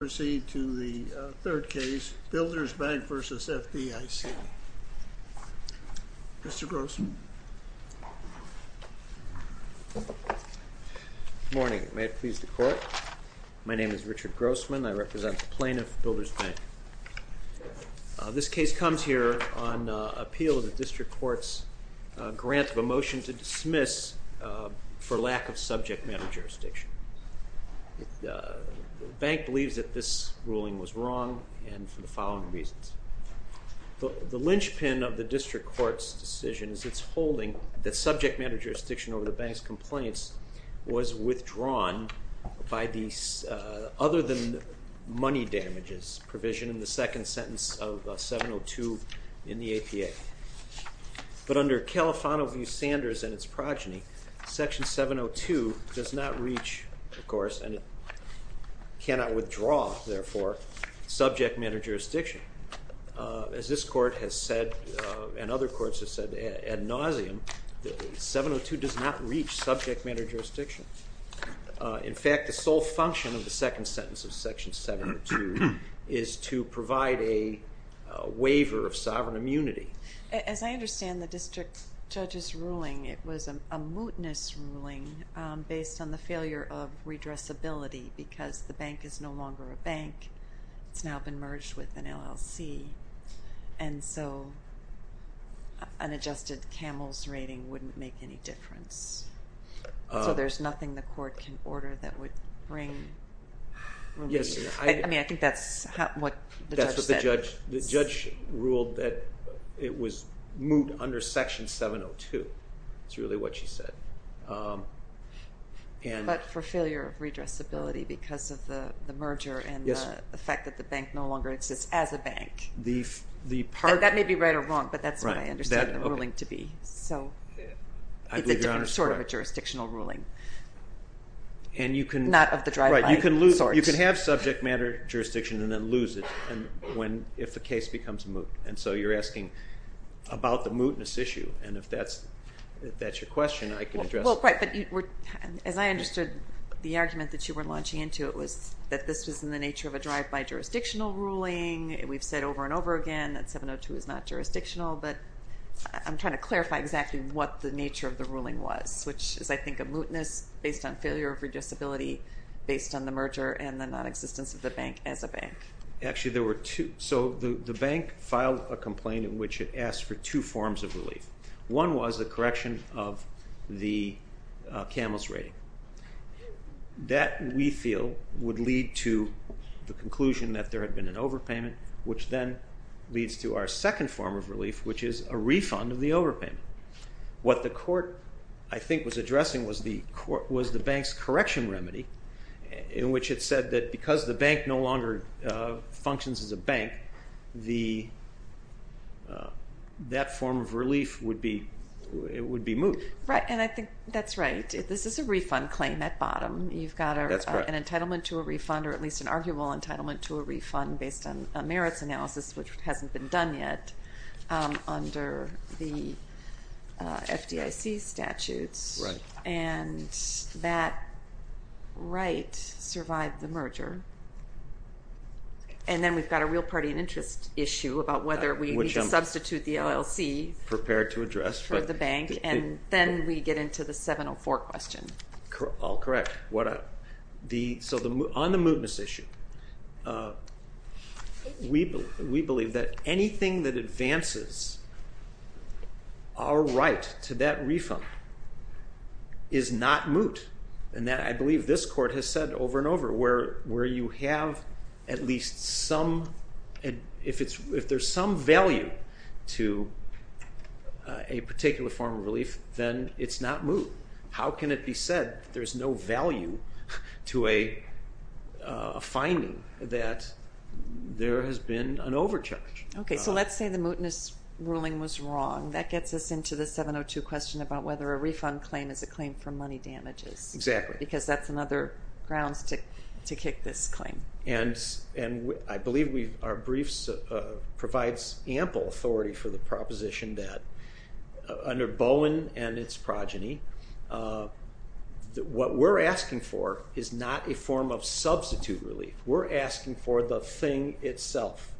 proceed to the third case, Builders Bank v. FDIC. Mr. Grossman. Good morning. May it please the court. My name is Richard Grossman. I represent the plaintiff, Builders Bank. This case comes here on appeal of the District Court's grant of a motion to dismiss for lack of subject matter jurisdiction. The bank believes that this ruling was wrong and for the following reasons. The lynchpin of the District Court's decision is its holding that subject matter jurisdiction over the bank's complaints was withdrawn by the other than money damages provision in the second sentence of 702 in the APA. But under Califano v. Sanders and its progeny, section 702 does not reach, of course, and cannot withdraw, therefore, subject matter jurisdiction. As this court has said, and other courts have said ad nauseum, 702 does not reach subject matter jurisdiction. In fact, the sole function of the second sentence of section 702 is to provide a waiver of sovereign immunity. As I understand the district judge's ruling, it was a mootness ruling based on the failure of redressability because the bank is no longer a bank. It's now been merged with an LLC. And so an adjusted Camels rating wouldn't make any difference. So there's nothing the court can order that would bring... Yes. I mean, I think that's what the judge said. That's what the judge... the judge ruled that it was moot under section 702. That's really what she said. But for failure of redressability because of the merger and the fact that the bank no longer exists as a bank. That may be right or wrong, but that's what I understand the ruling to be. So it's sort of a jurisdictional ruling, not of the drive-by sort. You can have subject matter jurisdiction and then lose it if the case becomes moot. And so you're asking about the mootness issue. And if that's your question, I can address it. Right, but as I understood the argument that you were launching into, it was that this was in the nature of a drive-by jurisdictional ruling. We've said over and over again that 702 is not jurisdictional, but I'm trying to clarify exactly what the nature of the ruling was, which is, I think, a mootness based on failure of redressability, based on the merger and the nonexistence of the bank as a bank. Actually, there were two. So the bank filed a complaint in which it asked for two forms of relief. One was the correction of the Camels rating. That, we feel, would lead to the conclusion that there had been an overpayment, which then leads to our second form of relief, which is a refund of the overpayment. What the court, I think, was addressing was the bank's correction remedy, in which it said that because the bank no longer functions as a bank, that form of relief would be moot. Right, and I think that's right. This is a refund claim at bottom. You've got an entitlement to a refund, or at least an arguable entitlement to a refund, based on a merits analysis, which hasn't been done yet under the FDIC statutes. Right. And that right survived the merger. And then we've got a real party and interest issue about whether we need to substitute the LLC. Which I'm prepared to address. For the bank. And then we get into the 704 question. All correct. So on the mootness issue, we believe that anything that advances our right to that refund is not moot. And I believe this court has said over and over, where you have at least some, if there's some value to a particular form of relief, then it's not moot. How can it be said that there's no value to a finding that there has been an overcharge? Okay, so let's say the mootness ruling was wrong. That gets us into the 702 question about whether a refund claim is a claim for money damages. Exactly. Because that's another grounds to kick this claim. And I believe our briefs provides ample authority for the proposition that under Bowen and its progeny, what we're asking for is not a form of substitute relief. We're asking for the thing itself.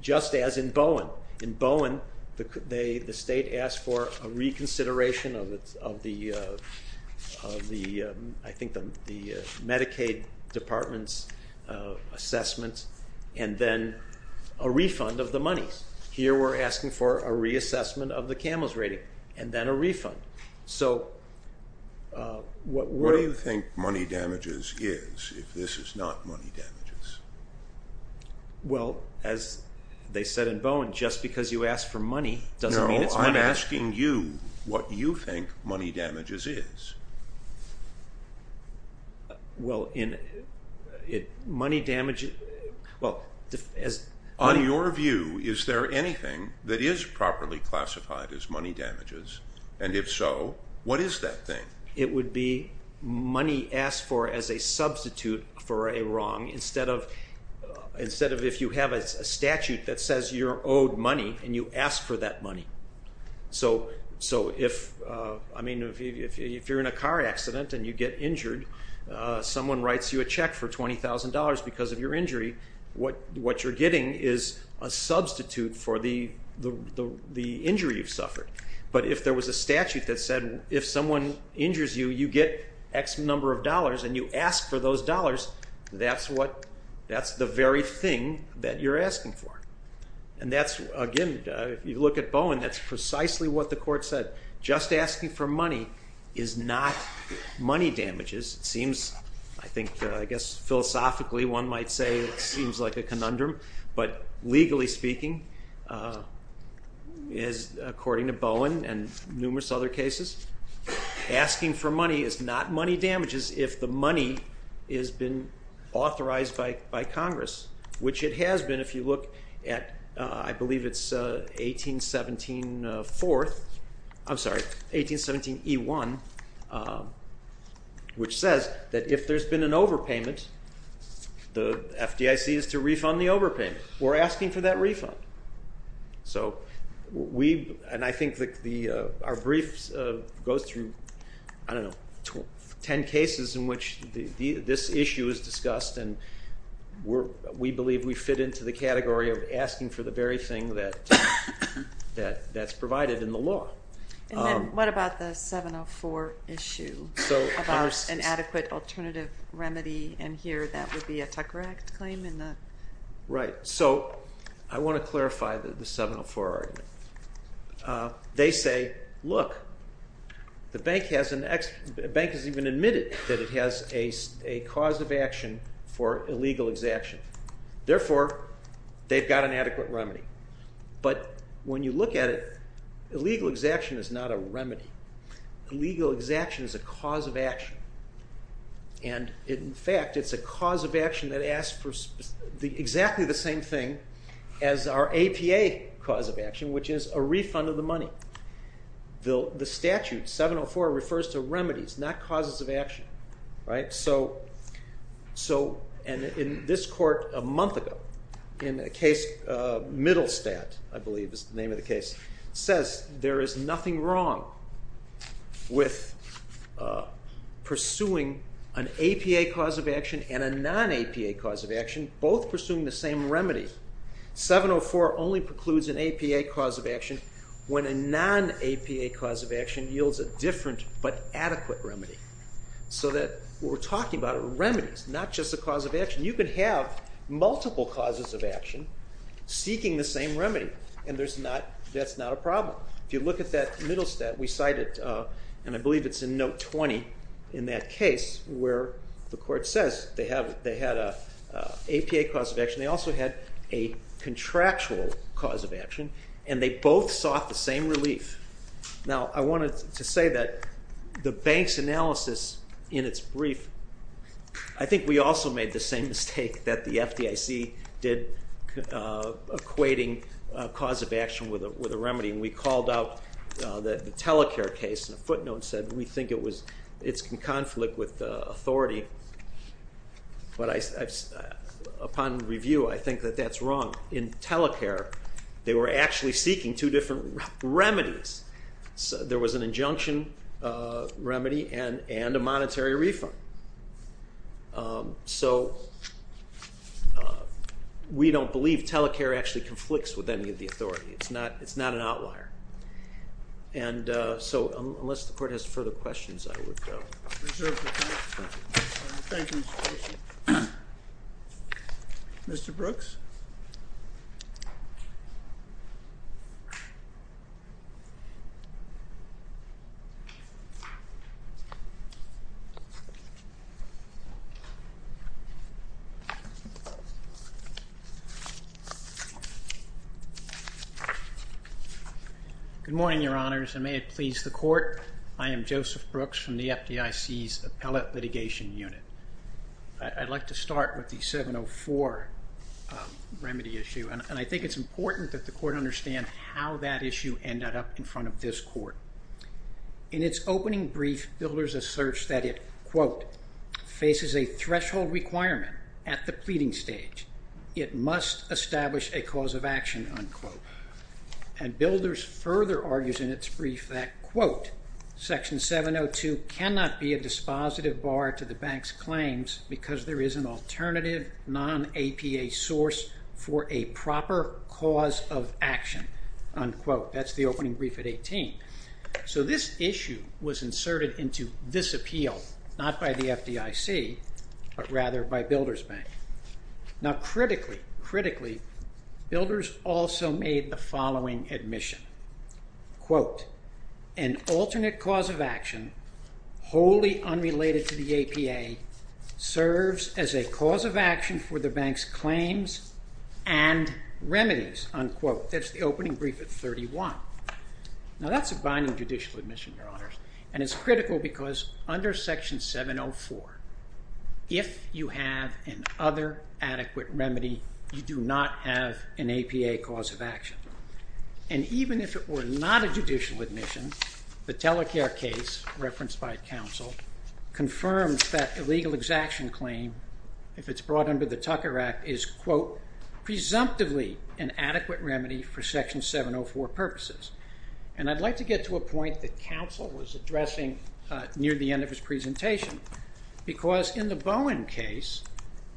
Just as in Bowen. Well, in Bowen, the state asked for a reconsideration of the, I think, the Medicaid Department's assessment, and then a refund of the money. Here we're asking for a reassessment of the CAMELS rating, and then a refund. So what we're... What do you think money damages is if this is not money damages? Well, as they said in Bowen, just because you ask for money doesn't mean it's money. No, I'm asking you what you think money damages is. Well, in money damage... On your view, is there anything that is properly classified as money damages? And if so, what is that thing? It would be money asked for as a substitute for a wrong, instead of if you have a statute that says you're owed money and you ask for that money. So if you're in a car accident and you get injured, someone writes you a check for $20,000 because of your injury, what you're getting is a substitute for the injury you've suffered. But if there was a statute that said if someone injures you, you get X number of dollars and you ask for those dollars, that's the very thing that you're asking for. And that's, again, if you look at Bowen, that's precisely what the court said. Just asking for money is not money damages. It seems, I think, I guess philosophically one might say it seems like a conundrum, but legally speaking, according to Bowen and numerous other cases, asking for money is not money damages if the money has been authorized by Congress, which it has been if you look at, I believe it's 1817 fourth, I'm sorry, 1817 E1, which says that if there's been an overpayment, the FDIC is to refund the overpayment. We're asking for that refund. So we, and I think our briefs go through, I don't know, 10 cases in which this issue is discussed and we believe we fit into the category of asking for the very thing that's provided in the law. And then what about the 704 issue about an adequate alternative remedy and here that would be a Tucker Act claim? Right, so I want to clarify the 704 argument. They say, look, the bank has even admitted that it has a cause of action for illegal exaction. Therefore, they've got an adequate remedy. But when you look at it, illegal exaction is not a remedy. Illegal exaction is a cause of action. And in fact, it's a cause of action that asks for exactly the same thing as our APA cause of action, which is a refund of the money. The statute 704 refers to remedies, not causes of action. So in this court a month ago, in a case, Middlestadt, I believe is the name of the case, says there is nothing wrong with pursuing an APA cause of action and a non-APA cause of action, both pursuing the same remedy. 704 only precludes an APA cause of action when a non-APA cause of action yields a different but adequate remedy. So that what we're talking about are remedies, not just a cause of action. You could have multiple causes of action seeking the same remedy, and that's not a problem. If you look at that Middlestadt, we cite it, and I believe it's in note 20 in that case, where the court says they had an APA cause of action. They also had a contractual cause of action, and they both sought the same relief. Now, I wanted to say that the bank's analysis in its brief, I think we also made the same mistake that the FDIC did equating a cause of action with a remedy, and we called out the Telecare case, and a footnote said we think it's in conflict with authority. But upon review, I think that that's wrong. In Telecare, they were actually seeking two different remedies. There was an injunction remedy and a monetary refund. So we don't believe Telecare actually conflicts with any of the authority. It's not an outlier. And so unless the court has further questions, I would reserve the time. Thank you, Mr. Bishop. Mr. Brooks? Good morning, Your Honors, and may it please the court. I am Joseph Brooks from the FDIC's Appellate Litigation Unit. I'd like to start with the 704 remedy issue, and I think it's important that the court understand how that issue ended up in front of this court. In its opening brief, Builders asserts that it, quote, faces a threshold requirement at the pleading stage. It must establish a cause of action, unquote. Section 702 cannot be a dispositive bar to the bank's claims because there is an alternative non-APA source for a proper cause of action, unquote. That's the opening brief at 18. So this issue was inserted into this appeal, not by the FDIC, but rather by Builders Bank. Now, critically, critically, Builders also made the following admission, quote, an alternate cause of action wholly unrelated to the APA serves as a cause of action for the bank's claims and remedies, unquote. That's the opening brief at 31. Now, that's a binding judicial admission, Your Honors, and it's critical because under Section 704, if you have an other adequate remedy, you do not have an APA cause of action. And even if it were not a judicial admission, the Telecare case, referenced by counsel, confirms that a legal exaction claim, if it's brought under the Tucker Act, is, quote, presumptively an adequate remedy for Section 704 purposes. And I'd like to get to a point that counsel was addressing near the end of his presentation because in the Bowen case,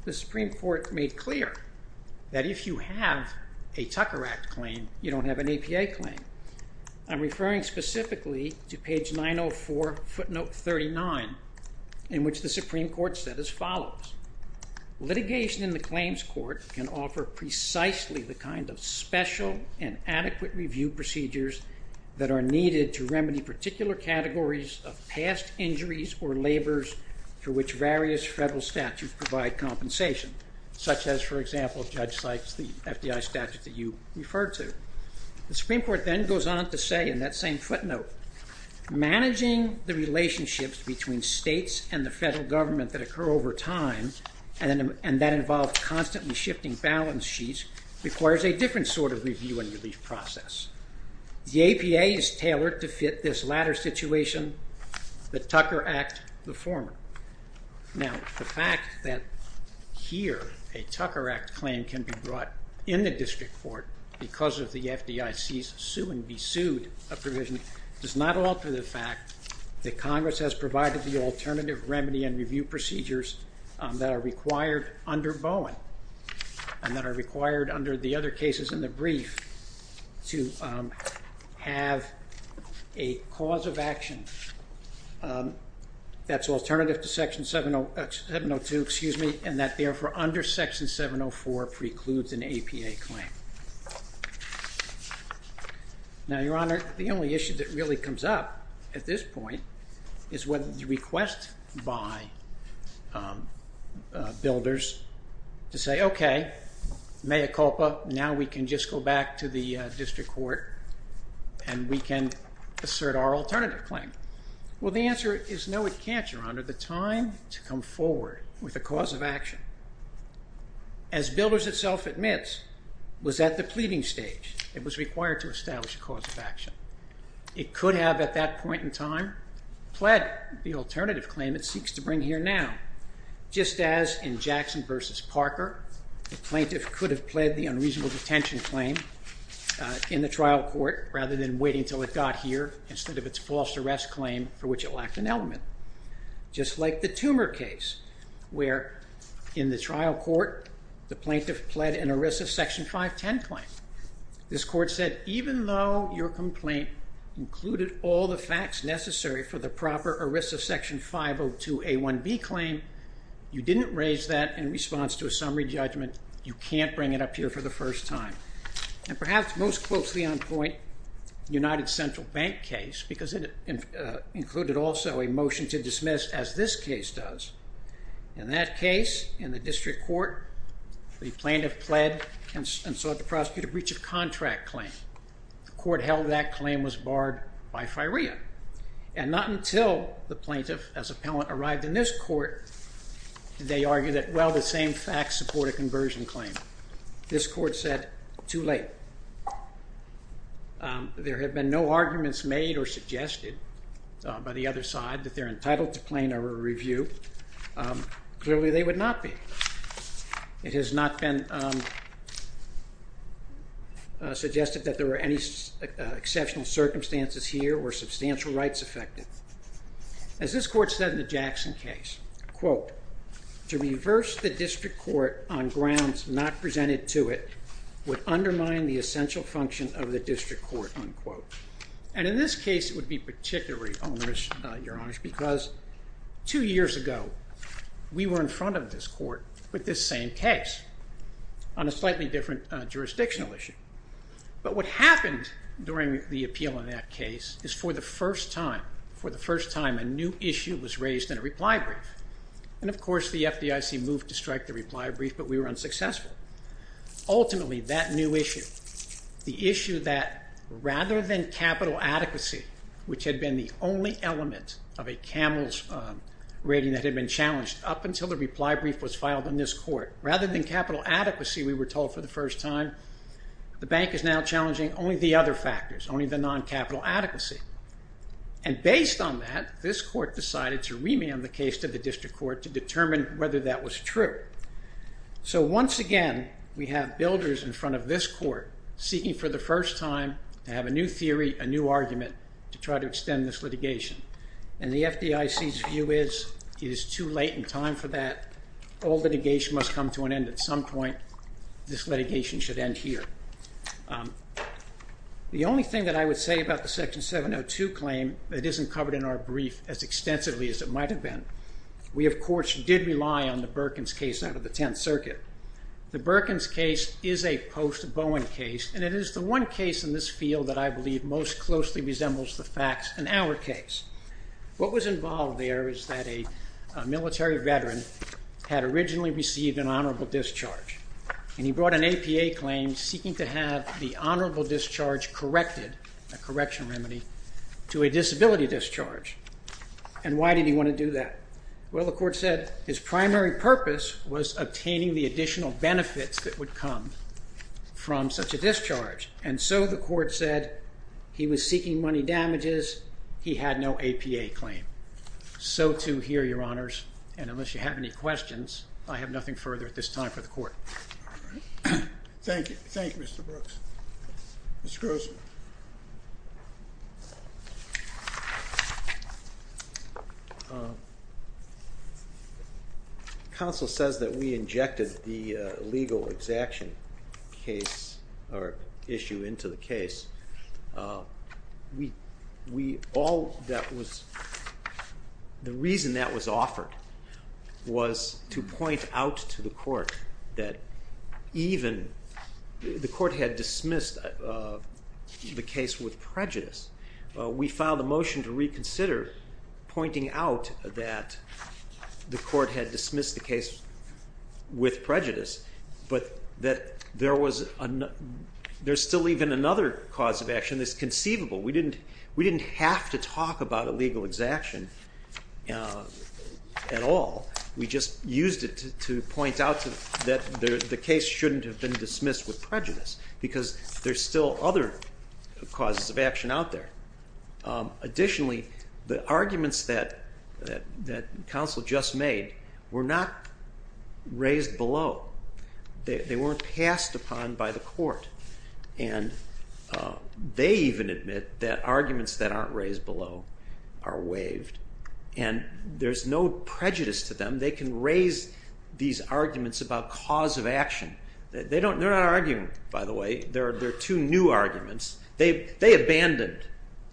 the Supreme Court made clear that if you have a Tucker Act claim, you don't have an APA claim. I'm referring specifically to page 904, footnote 39, in which the Supreme Court said as follows, litigation in the claims court can offer precisely the kind of special and adequate review procedures that are needed to remedy particular categories of past injuries or labors for which various federal statutes provide compensation, such as, for example, Judge Sykes, the FDI statute that you referred to. The Supreme Court then goes on to say in that same footnote, managing the relationships between states and the federal government that occur over time, and that involves constantly shifting balance sheets, requires a different sort of review and relief process. The APA is tailored to fit this latter situation, the Tucker Act, the former. Now, the fact that here a Tucker Act claim can be brought in the district court because of the FDIC's sue and be sued provision does not alter the fact that Congress has provided the alternative remedy and review procedures that are required under Bowen and that are required under the other cases in the brief to have a cause of action that's alternative to Section 702, excuse me, and that therefore under Section 704 precludes an APA claim. Now, Your Honor, the only issue that really comes up at this point is what the request by builders to say, okay, mea culpa, now we can just go back to the district court and we can assert our alternative claim. Well, the answer is no, it can't, Your Honor. The time to come forward with a cause of action, as builders itself admits, was at the pleading stage. It was required to establish a cause of action. It could have at that point in time pled the alternative claim it seeks to bring here now, just as in Jackson v. Parker, the plaintiff could have pled the unreasonable detention claim in the trial court rather than waiting until it got here instead of its false arrest claim for which it lacked an element. Just like the Tumor case where in the trial court the plaintiff pled an included all the facts necessary for the proper ERISA Section 502A1B claim, you didn't raise that in response to a summary judgment. You can't bring it up here for the first time. And perhaps most closely on point, United Central Bank case, because it included also a motion to dismiss as this case does. In that case, in the district court, the plaintiff pled and sought the court held that claim was barred by firea. And not until the plaintiff as appellant arrived in this court did they argue that, well, the same facts support a conversion claim. This court said, too late. There have been no arguments made or suggested by the other side that they're entitled to claim or review. Clearly they would not be. It has not been suggested that there were any exceptional circumstances here or substantial rights affected. As this court said in the Jackson case, quote, to reverse the district court on grounds not presented to it would undermine the essential function of the district court, unquote. And in this case it would be particularly onerous, Your Honor, because two years ago we were in front of this court with this same case on a slightly different jurisdictional issue. But what happened during the appeal in that case is for the first time, for the first time a new issue was raised in a reply brief. And, of course, the FDIC moved to strike the reply brief, but we were unsuccessful. Ultimately that new issue, the issue that rather than capital adequacy, which had been the only element of a Camels rating that had been challenged up until the reply brief was filed in this court, rather than capital adequacy we were told for the first time, the bank is now challenging only the other factors, only the non-capital adequacy. And based on that, this court decided to remand the case to the district court to determine whether that was true. So once again we have builders in front of this court seeking for the first time to have a new theory, a new argument to try to extend this litigation. And the FDIC's view is it is too late in time for that. All litigation must come to an end at some point. This litigation should end here. The only thing that I would say about the Section 702 claim that isn't covered in our brief as extensively as it might have been, we, of course, did rely on the Berkins case out of the Tenth Circuit. The Berkins case is a post-Bowen case, and it is the one case in this field that I believe most closely resembles the facts in our case. What was involved there is that a military veteran had originally received an honorable discharge, and he brought an APA claim seeking to have the honorable discharge corrected, a correction remedy, to a disability discharge. And why did he want to do that? Well, the court said his primary purpose was obtaining the additional benefits that would come from such a discharge. And so the court said he was seeking money damages. He had no APA claim. So, too, here, Your Honors, and unless you have any questions, I have nothing further at this time for the court. Thank you. Thank you, Mr. Brooks. Mr. Grossman. Counsel says that we injected the legal exaction case or issue into the case. We all that was, the reason that was offered was to point out to the court that even the court had dismissed the case with prejudice. We filed a motion to reconsider pointing out that the court had dismissed the case with prejudice, but that there was, there's still even another cause of action that's conceivable. We didn't have to talk about a legal exaction at all. We just used it to point out that the case shouldn't have been dismissed with prejudice because there's still other causes of action out there. Additionally, the arguments that counsel just made were not raised below. They weren't passed upon by the court. And they even admit that arguments that aren't raised below are waived. And there's no prejudice to them. They can raise these arguments about cause of action. They're not arguing, by the way. They're two new arguments. They abandoned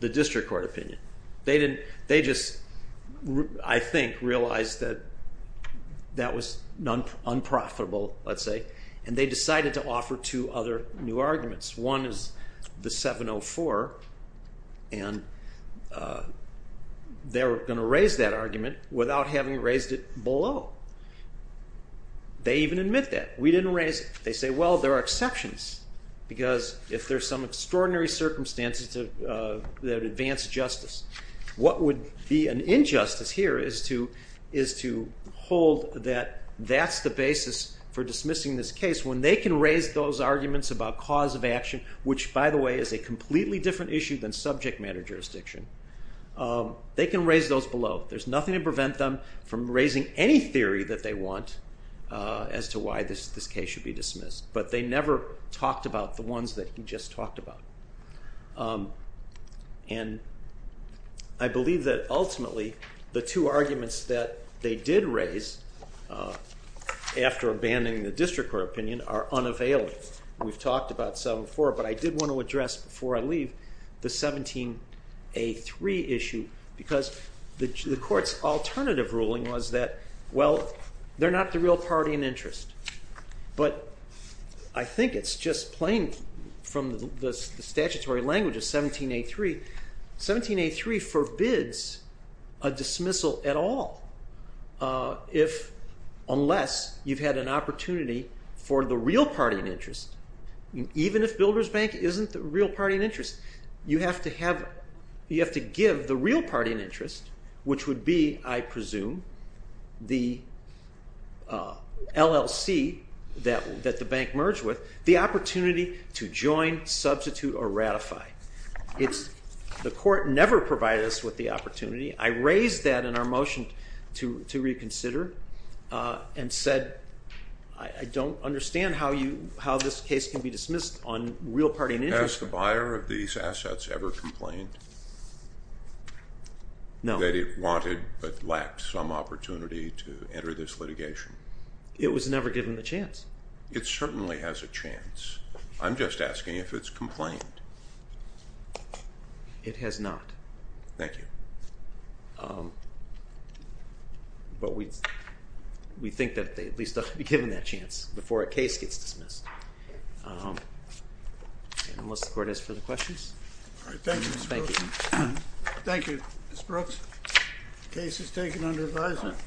the district court opinion. They just, I think, realized that that was unprofitable, let's say, and they decided to offer two other new arguments. One is the 704, and they're going to raise that argument without having raised it below. They even admit that. We didn't raise it. They say, well, there are exceptions because if there's some extraordinary circumstances that advance justice, what would be an injustice here is to hold that that's the basis for dismissing this case. When they can raise those arguments about cause of action, which, by the way, is a completely different issue than subject matter jurisdiction, they can raise those below. There's nothing to prevent them from raising any theory that they want as to why this case should be dismissed. But they never talked about the ones that he just talked about. And I believe that ultimately the two arguments that they did raise after abandoning the district court opinion are unavailable. We've talked about 704, but I did want to address before I leave the 17A3 issue because the court's alternative ruling was that, well, they're not the real party in interest. But I think it's just plain from the statutory language of 17A3. 17A3 forbids a dismissal at all unless you've had an opportunity for the real party in interest. Even if Builders Bank isn't the real party in interest, you have to give the real party in interest, which would be, I presume, the LLC that the bank merged with, the opportunity to join, substitute, or ratify. The court never provided us with the opportunity. I raised that in our motion to reconsider and said I don't understand how this case can be dismissed on real party in interest. Has the buyer of these assets ever complained? No. That it wanted but lacked some opportunity to enter this litigation? It was never given the chance. It certainly has a chance. I'm just asking if it's complained. It has not. Thank you. But we think that they at least ought to be given that chance before a case gets dismissed. Unless the court has further questions. All right. Thank you, Mr. Brooks. Thank you. Thank you, Mr. Brooks. The case is taken under advisement.